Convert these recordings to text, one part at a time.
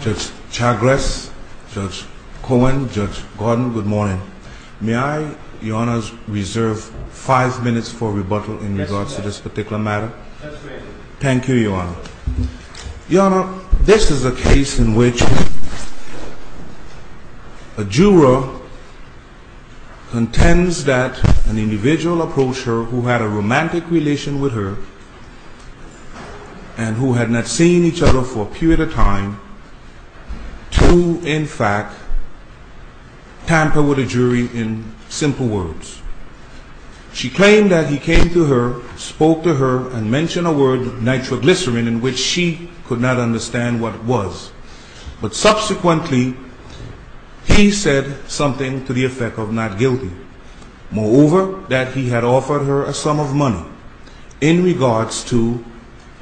Judge Chagres, Judge Cohen, Judge Gordon, good morning. May I, Your Honor, reserve five minutes for rebuttal in regards to this particular matter? Thank you, Your Honor. Your Honor, this is a case in which a juror contends that an individual approached her who had a romantic relation with her and who had not seen each other for a period of time to, in fact, tamper with a jury in simple words. She claimed that he came to her, spoke to her, and mentioned a word, nitroglycerin, in which she could not understand what it was. But subsequently, he said something to the effect of not guilty. Moreover, that he had offered her a sum of money in regards to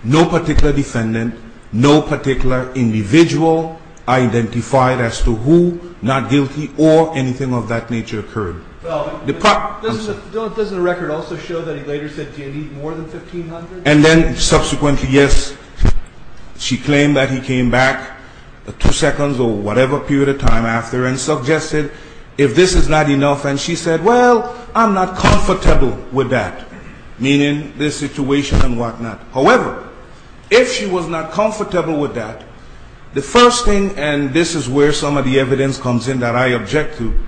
no particular defendant, no particular individual identified as to who, not guilty, or anything of that nature occurred. Doesn't the record also show that he later said, do you need more than $1,500? And then subsequently, yes, she claimed that he came back two seconds or whatever period of time after and suggested, if this is not enough, and she said, well, I'm not comfortable with that, meaning this situation and whatnot. However, if she was not comfortable with that, the first thing, and this is where some of the evidence comes in that I object to,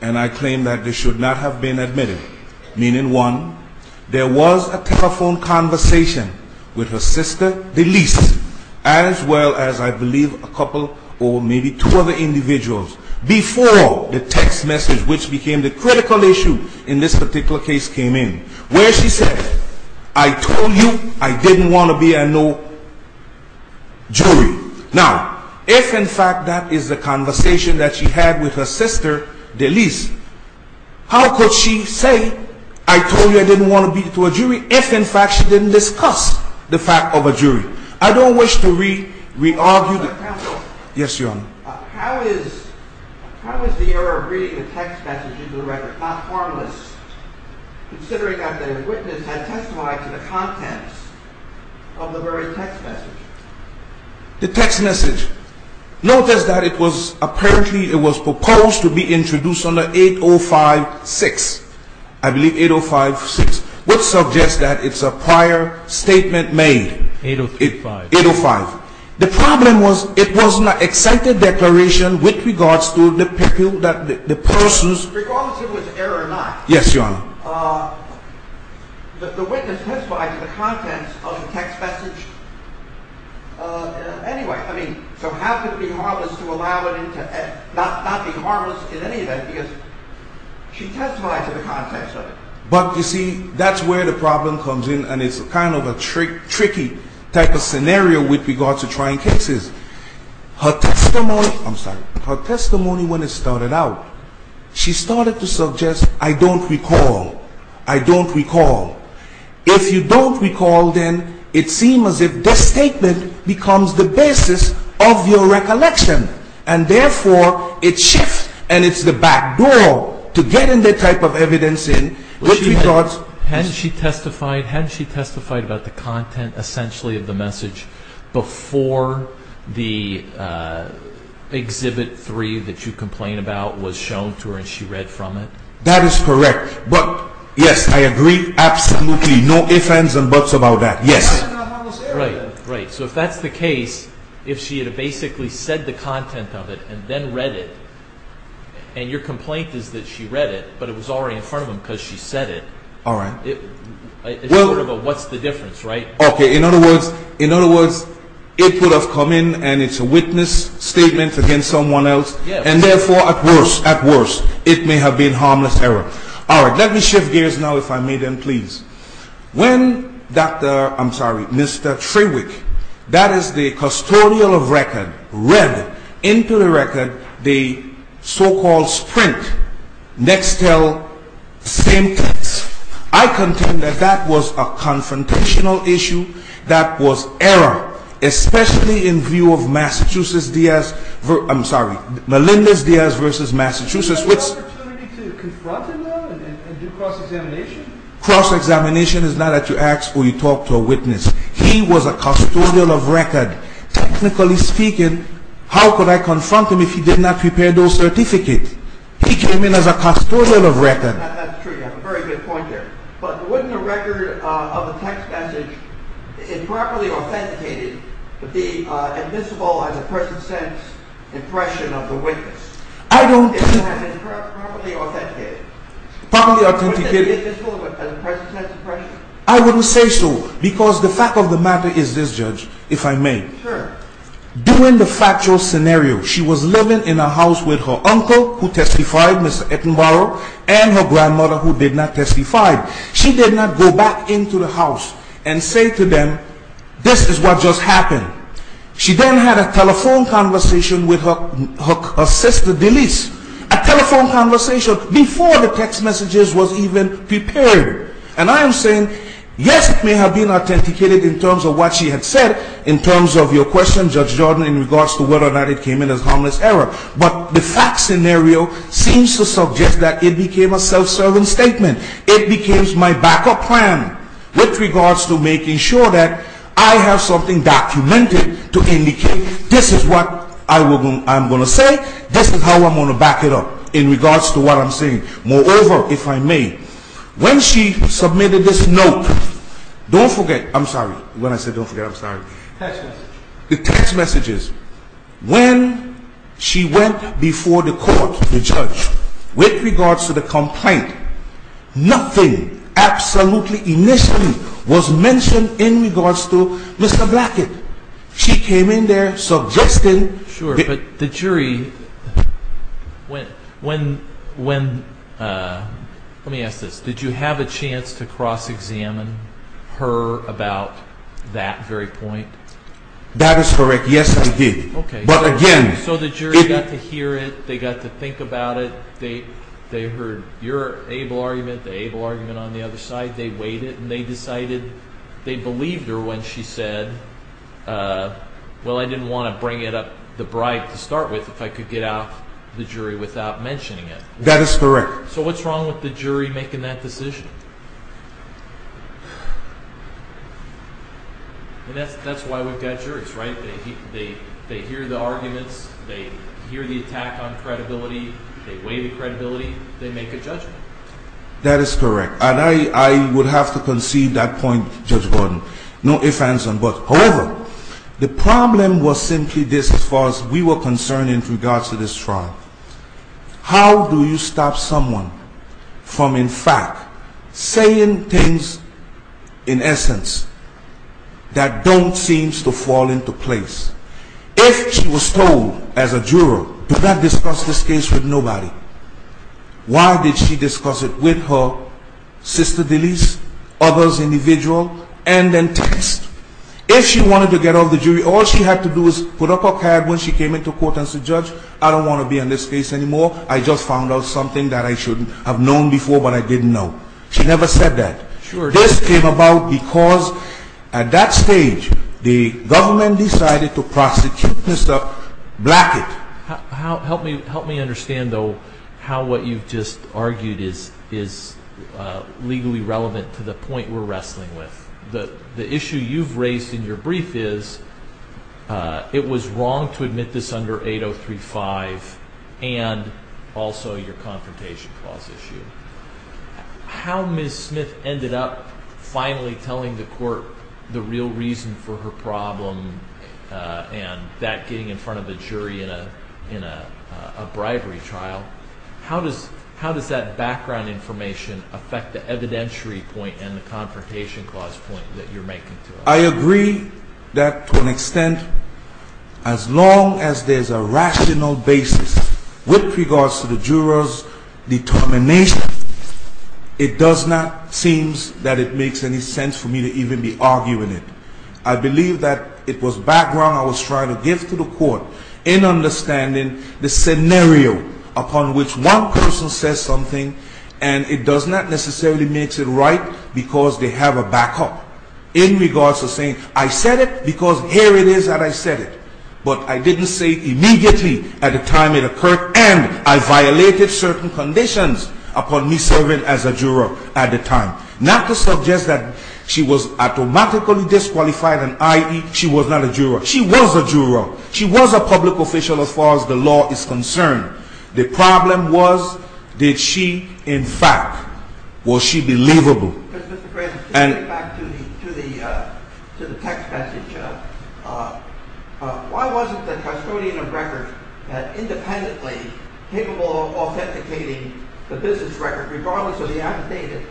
and I claim that this should not have been admitted, meaning one, there was a telephone conversation with her sister, the least, as well as, I believe, a couple or maybe two other individuals, before the text message, which became the critical issue in this particular case, came in, where she said, I told you I didn't want to be a no jury. Now, if, in fact, that is the conversation that she had with her sister, the least, how could she say, I told you I didn't want to be to a jury, if, in fact, she didn't discuss the fact of a jury? I don't wish to re-argue. Yes, Your Honor. How is the error of reading the text message into the record not harmless, considering that the witness had testified to the contents of the very text message? But, you see, that's where the problem comes in, and it's kind of a tricky type of scenario with regard to trying cases. Her testimony, I'm sorry, her testimony when it started out, she started to suggest, I don't recall, I don't recall. If you don't recall, then it seems as if this statement becomes the basis of your recollection, and, therefore, it shifts, and it's the back door to getting the type of evidence in, which, we thought, Hadn't she testified, hadn't she testified about the content, essentially, of the message before the Exhibit 3 that you complain about was shown to her and she read from it? That is correct, but, yes, I agree absolutely, no ifs, ands, and buts about that, yes. Right, so if that's the case, if she had basically said the content of it and then read it, and your complaint is that she read it, but it was already in front of her because she said it, it's sort of a what's the difference, right? Okay, in other words, in other words, it would have come in and it's a witness statement against someone else, and, therefore, at worst, at worst, it may have been harmless error. All right, let me shift gears now, if I may, then, please. When Dr., I'm sorry, Mr. Trewick, that is the custodial of record, read into the record the so-called Sprint Nextel same text, I contend that that was a confrontational issue. That was error, especially in view of Massachusetts Diaz, I'm sorry, Melendez Diaz versus Massachusetts. You had the opportunity to confront him, though, and do cross-examination? Cross-examination is not that you ask or you talk to a witness. He was a custodial of record. Technically speaking, how could I confront him if he did not prepare those certificates? He came in as a custodial of record. That's true, you have a very good point there, but wouldn't a record of a text message improperly authenticated to be invisible as a person's sense impression of the witness? I don't... Improperly authenticated? Properly authenticated. Wouldn't it be invisible as a person's sense impression? I wouldn't say so, because the fact of the matter is this, Judge, if I may. Sure. During the factual scenario, she was living in a house with her uncle, who testified, Mr. Ettenborough, and her grandmother, who did not testify. She did not go back into the house and say to them, this is what just happened. She then had a telephone conversation with her sister, Denise. A telephone conversation before the text messages were even prepared. And I am saying, yes, it may have been authenticated in terms of what she had said, in terms of your question, Judge Jordan, in regards to whether or not it came in as harmless error. But the fact scenario seems to suggest that it became a self-serving statement. It became my backup plan with regards to making sure that I have something documented to indicate this is what I'm going to say, this is how I'm going to back it up in regards to what I'm saying. Moreover, if I may, when she submitted this note, don't forget, I'm sorry, when I said don't forget, I'm sorry. Text messages. When she went before the court, the judge, with regards to the complaint, nothing absolutely, initially, was mentioned in regards to Mr. Blackett. She came in there suggesting... Sure, but the jury, when, when, when, let me ask this, did you have a chance to cross-examine her about that very point? That is correct. Yes, I did. Okay. But again... So the jury got to hear it, they got to think about it, they heard your able argument, the able argument on the other side, they weighed it, and they decided, they believed her when she said, well, I didn't want to bring it up the bribe to start with if I could get out the jury without mentioning it. That is correct. So what's wrong with the jury making that decision? That's why we've got juries, right? They hear the arguments, they hear the attack on credibility, they weigh the credibility, they make a judgment. That is correct. And I would have to concede that point, Judge Gordon, no ifs, ands, and buts. However, the problem was simply this as far as we were concerned in regards to this trial. How do you stop someone from, in fact, saying things, in essence, that don't seem to fall into place? If she was told as a juror, do not discuss this case with nobody, why did she discuss it with her sister, Denise, others, individual, and then text? If she wanted to get out of the jury, all she had to do was put up her card when she came into court and said, Judge, I don't want to be in this case anymore. I just found out something that I should have known before, but I didn't know. She never said that. This came about because at that stage, the government decided to prosecute Mr. Blackett. Help me understand, though, how what you've just argued is legally relevant to the point we're wrestling with. The issue you've raised in your brief is it was wrong to admit this under 8035 and also your confrontation clause issue. How Ms. Smith ended up finally telling the court the real reason for her problem and that getting in front of the jury in a bribery trial, how does that background information affect the evidentiary point and the confrontation clause point that you're making to us? I agree that to an extent, as long as there's a rational basis with regards to the juror's determination, it does not seem that it makes any sense for me to even be arguing it. I believe that it was background I was trying to give to the court in understanding the scenario upon which one person says something, and it does not necessarily make it right because they have a backup in regards to saying, I said it because here it is that I said it. But I didn't say immediately at the time it occurred, and I violated certain conditions upon me serving as a juror at the time. Not to suggest that she was automatically disqualified, i.e., she was not a juror. She was a juror. She was a public official as far as the law is concerned. The problem was, did she, in fact, was she believable? Mr. Graves, just getting back to the text message, why wasn't the custodian of records independently capable of authenticating the business record regardless of the amnesty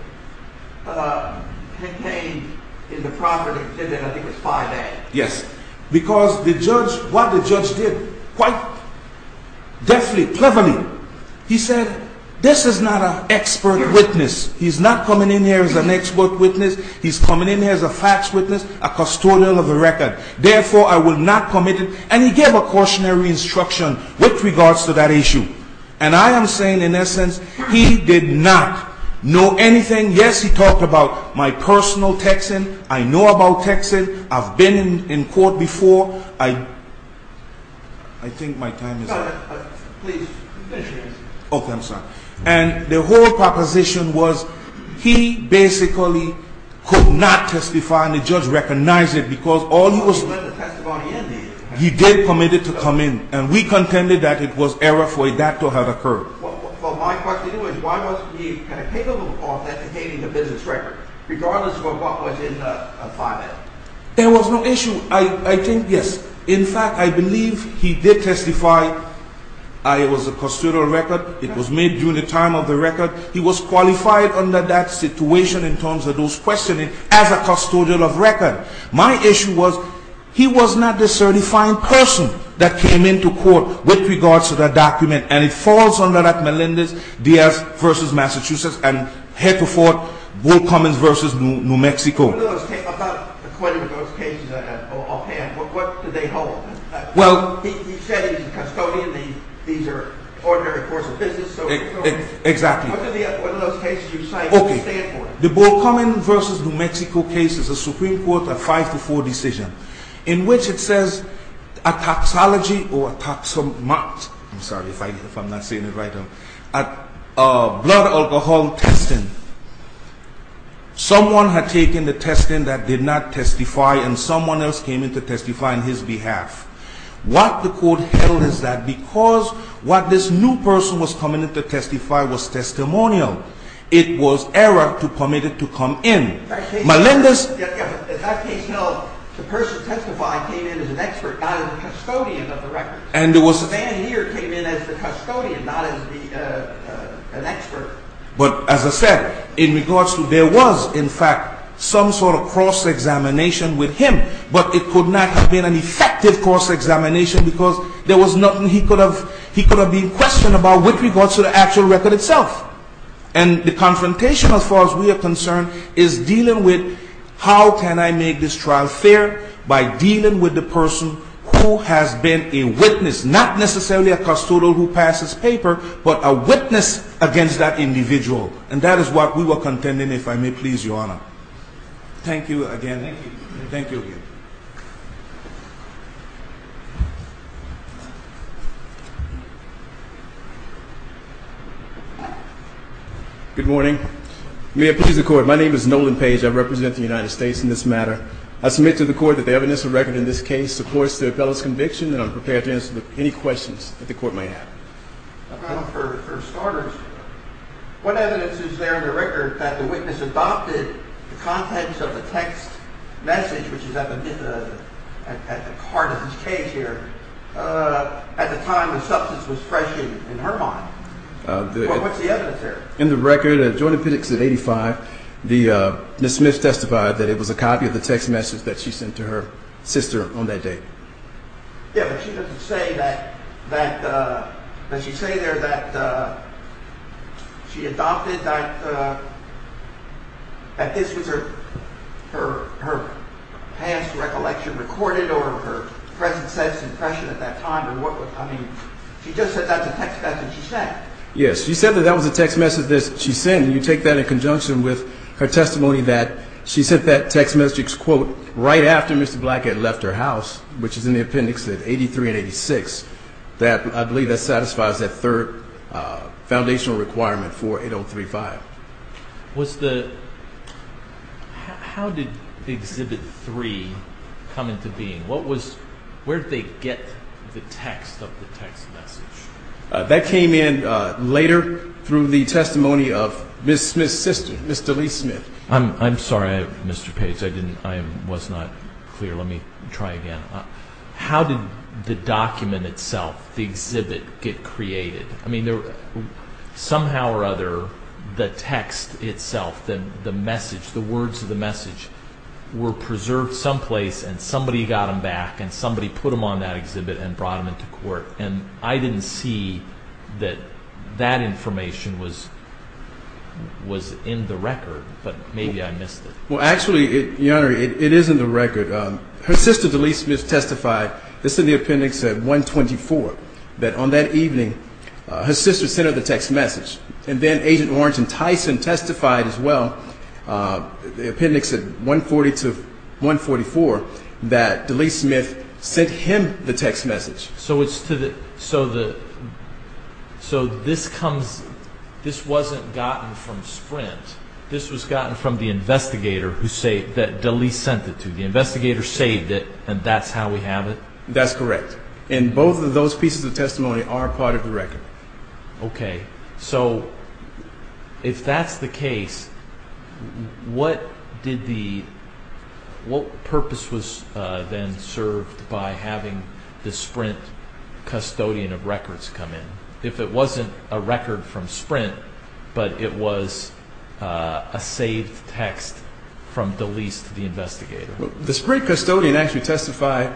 that contained in the property? I think it was 5A. Yes. Because the judge, what the judge did quite deftly, cleverly, he said, this is not an expert witness. He's not coming in here as an expert witness. He's coming in here as a facts witness, a custodian of the record. Therefore, I will not commit it, and he gave a cautionary instruction with regards to that issue. And I am saying, in essence, he did not know anything. Yes, he talked about my personal texting. I know about texting. I've been in court before. I think my time is up. Please finish your answer. Okay. I'm sorry. And the whole proposition was he basically could not testify, and the judge recognized it because all he was… He wanted to let the testimony in. He did commit it to come in, and we contended that it was error for that to have occurred. Well, my question is, why was he incapable of authenticating the business record, regardless of what was in the 5A? There was no issue. I think, yes. In fact, I believe he did testify. It was a custodial record. It was made during the time of the record. He was qualified under that situation in terms of those questioning as a custodian of record. My issue was, he was not the certifying person that came into court with regards to that document, and it falls under that Melendez-Diaz v. Massachusetts and head to foot, Bull Cummings v. New Mexico. About the 20 of those cases offhand, what do they hold? Well… He said he's a custodian. These are ordinary courses of business. Exactly. What are those cases you cite? What do they stand for? The Bull Cummings v. New Mexico case is a Supreme Court 5-4 decision in which it says a taxology or a taxomat, I'm sorry if I'm not saying it right, a blood alcohol testing. Someone had taken the testing that did not testify, and someone else came in to testify on his behalf. What the court held is that because what this new person was coming in to testify was testimonial, it was error to permit it to come in. In that case held, the person testifying came in as an expert, not as a custodian of the record. The man here came in as the custodian, not as an expert. But as I said, in regards to there was, in fact, some sort of cross-examination with him, but it could not have been an effective cross-examination because there was nothing he could have been questioned about with regards to the actual record itself. And the confrontation, as far as we are concerned, is dealing with how can I make this trial fair by dealing with the person who has been a witness, not necessarily a custodian who passes paper, but a witness against that individual. And that is what we were contending, if I may please, Your Honor. Thank you again. Thank you. Thank you again. Good morning. May it please the Court, my name is Nolan Page. I represent the United States in this matter. I submit to the Court that the evidence of record in this case supports the appellant's conviction and I'm prepared to answer any questions that the Court may have. For starters, what evidence is there in the record that the witness adopted the contents of the text message, which is at the heart of this case here, at the time the substance was fresh in her mind? What's the evidence there? In the record, at Jordan Pitts at 85, Ms. Smith testified that it was a copy of the text message that she sent to her sister on that date. Yeah, but she doesn't say there that she adopted that this was her past recollection recorded or her present sense impression at that time. I mean, she just said that's a text message she sent. Yes, she said that that was a text message that she sent, and you take that in conjunction with her testimony that she sent that text message, right after Mr. Blackett left her house, which is in the appendix at 83 and 86, that I believe that satisfies that third foundational requirement for 8035. How did Exhibit 3 come into being? Where did they get the text of the text message? That came in later through the testimony of Ms. Smith's sister, Ms. Delise Smith. I'm sorry, Mr. Page, I was not clear. Let me try again. How did the document itself, the exhibit, get created? I mean, somehow or other, the text itself, the message, the words of the message, were preserved someplace and somebody got them back and somebody put them on that exhibit and brought them into court, and I didn't see that that information was in the record, but maybe I missed it. Well, actually, Your Honor, it is in the record. Her sister, Delise Smith, testified, this is in the appendix at 124, that on that evening her sister sent her the text message, and then Agent Orange and Tyson testified as well, the appendix at 140 to 144, that Delise Smith sent him the text message. So this wasn't gotten from Sprint. This was gotten from the investigator that Delise sent it to. The investigator saved it, and that's how we have it? That's correct, and both of those pieces of testimony are part of the record. Okay. So if that's the case, what purpose was then served by having the Sprint custodian of records come in? If it wasn't a record from Sprint, but it was a saved text from Delise to the investigator? The Sprint custodian actually testified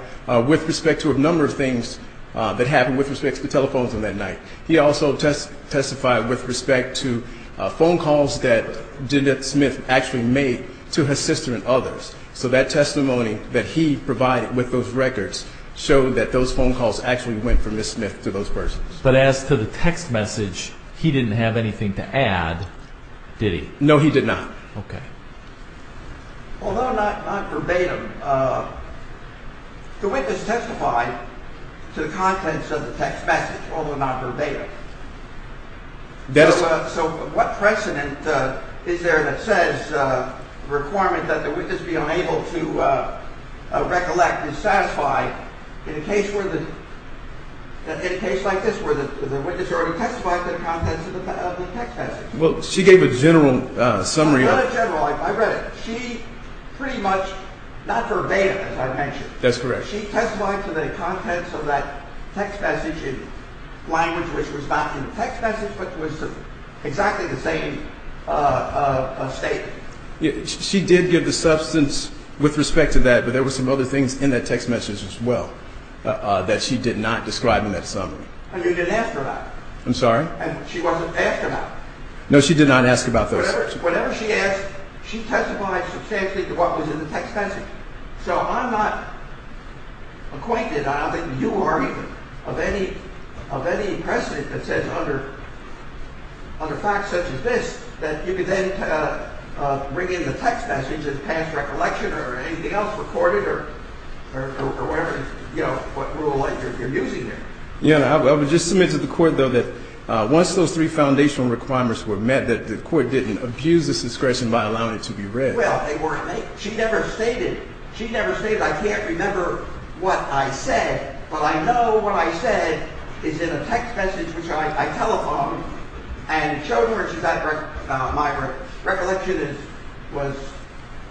with respect to a number of things that happened with respect to the telephones on that night. He also testified with respect to phone calls that Judith Smith actually made to her sister and others. So that testimony that he provided with those records showed that those phone calls actually went from Ms. Smith to those persons. But as to the text message, he didn't have anything to add, did he? No, he did not. Okay. Although not verbatim, the witness testified to the contents of the text message, although not verbatim. So what precedent is there that says the requirement that the witness be unable to recollect is satisfied in a case like this where the witness already testified to the contents of the text message? Well, she gave a general summary. She gave a general summary. I read it. She pretty much, not verbatim, as I mentioned. That's correct. She testified to the contents of that text message in language which was not in the text message, but was exactly the same statement. She did give the substance with respect to that, but there were some other things in that text message as well that she did not describe in that summary. And you didn't ask her about it? I'm sorry? And she wasn't asked about it? No, she did not ask about those. Whatever she asked, she testified substantially to what was in the text message. So I'm not acquainted, I don't think you are either, of any precedent that says under facts such as this that you could then bring in the text message as past recollection or anything else recorded or whatever, you know, what rule you're using there. I would just submit to the court, though, that once those three foundational requirements were met, that the court didn't abuse this discretion by allowing it to be read. Well, they weren't. She never stated. She never stated, I can't remember what I said, but I know what I said is in a text message which I telephoned and showed her that my recollection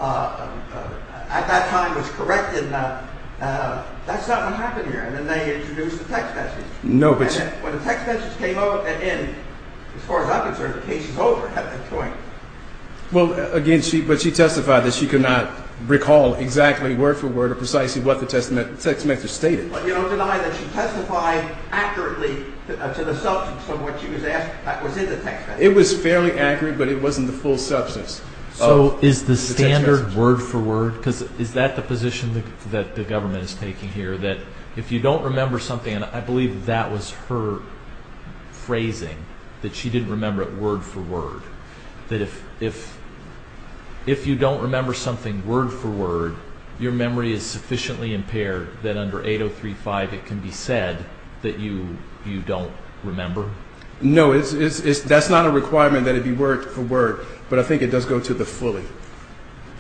at that time was correct and that's not what happened here. And then they introduced the text message. And when the text message came in, as far as I'm concerned, the case is over at that point. Well, again, but she testified that she could not recall exactly word for word or precisely what the text message stated. But you don't deny that she testified accurately to the substance of what she was asked that was in the text message. It was fairly accurate, but it wasn't the full substance of the text message. Word for word? Because is that the position that the government is taking here, that if you don't remember something, and I believe that was her phrasing, that she didn't remember it word for word, that if you don't remember something word for word, your memory is sufficiently impaired that under 8035 it can be said that you don't remember? No, that's not a requirement that it be word for word, but I think it does go to the fully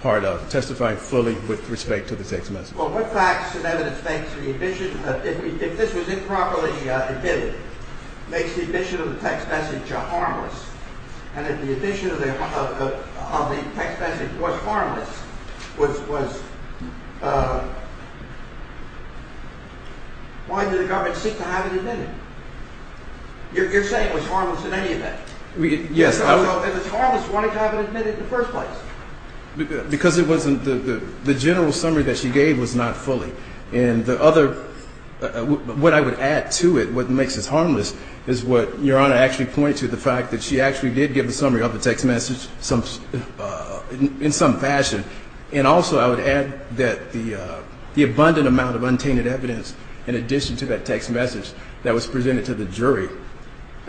part of testifying fully with respect to the text message. Well, what facts and evidence makes the addition, if this was improperly admitted, makes the addition of the text message harmless? And if the addition of the text message was harmless, why did the government seek to have it admitted? You're saying it was harmless in any event? Yes. If it's harmless, why have it admitted in the first place? Because the general summary that she gave was not fully. And what I would add to it, what makes it harmless, is what Your Honor actually pointed to, the fact that she actually did give a summary of the text message in some fashion. And also I would add that the abundant amount of untainted evidence in addition to that text message that was presented to the jury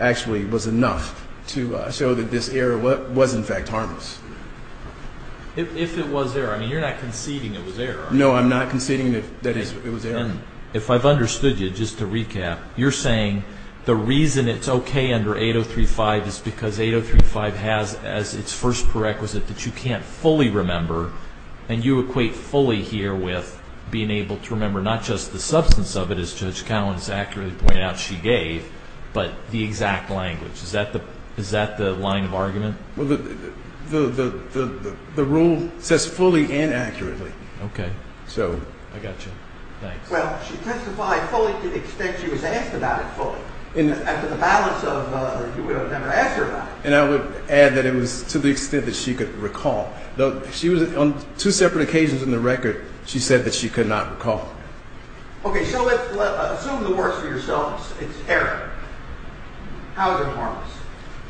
actually was enough to show that this error was in fact harmless. If it was error, I mean, you're not conceding it was error, are you? No, I'm not conceding that it was error. If I've understood you, just to recap, you're saying the reason it's okay under 8035 is because 8035 has as its first prerequisite that you can't fully remember, and you equate fully here with being able to remember not just the substance of it, as Judge Collins accurately pointed out she gave, but the exact language. Is that the line of argument? Well, the rule says fully and accurately. Okay. I got you. Thanks. Well, she testified fully to the extent she was asked about it fully. And I would add that it was to the extent that she could recall. Though she was on two separate occasions in the record, she said that she could not recall. Okay. So let's assume the worst for yourselves. It's error. How is it harmless?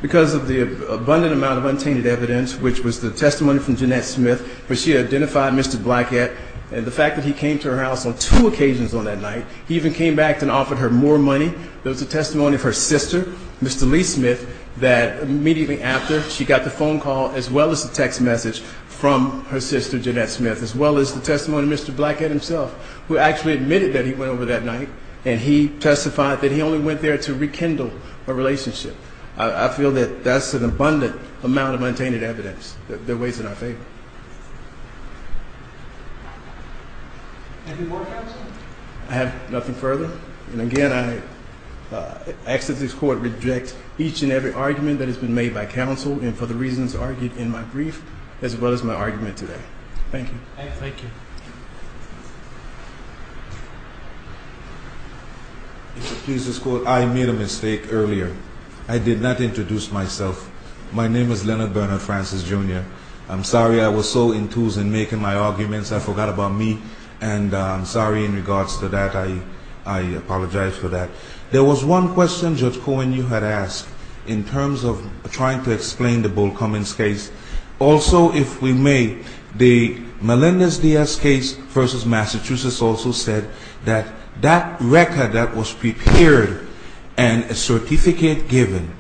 Because of the abundant amount of untainted evidence, which was the testimony from Jeanette Smith, where she identified Mr. Blackett and the fact that he came to her house on two occasions on that night. He even came back and offered her more money. There was the testimony of her sister, Mr. Lee Smith, that immediately after, she got the phone call as well as the text message from her sister, Jeanette Smith, as well as the testimony of Mr. Blackett himself, who actually admitted that he went over that night, and he testified that he only went there to rekindle a relationship. I feel that that's an abundant amount of untainted evidence that weighs in our favor. Any more questions? I have nothing further. And again, I ask that this Court reject each and every argument that has been made by counsel and for the reasons argued in my brief as well as my argument today. Thank you. Thank you. If you'll excuse this Court, I made a mistake earlier. I did not introduce myself. My name is Leonard Bernard Francis, Jr. I'm sorry I was so enthused in making my arguments I forgot about me, and I'm sorry in regards to that. I apologize for that. There was one question, Judge Cohen, you had asked in terms of trying to explain the Bull Cummings case. Also, if we may, the Melendez-Diaz case versus Massachusetts also said that that record that was prepared and a certificate given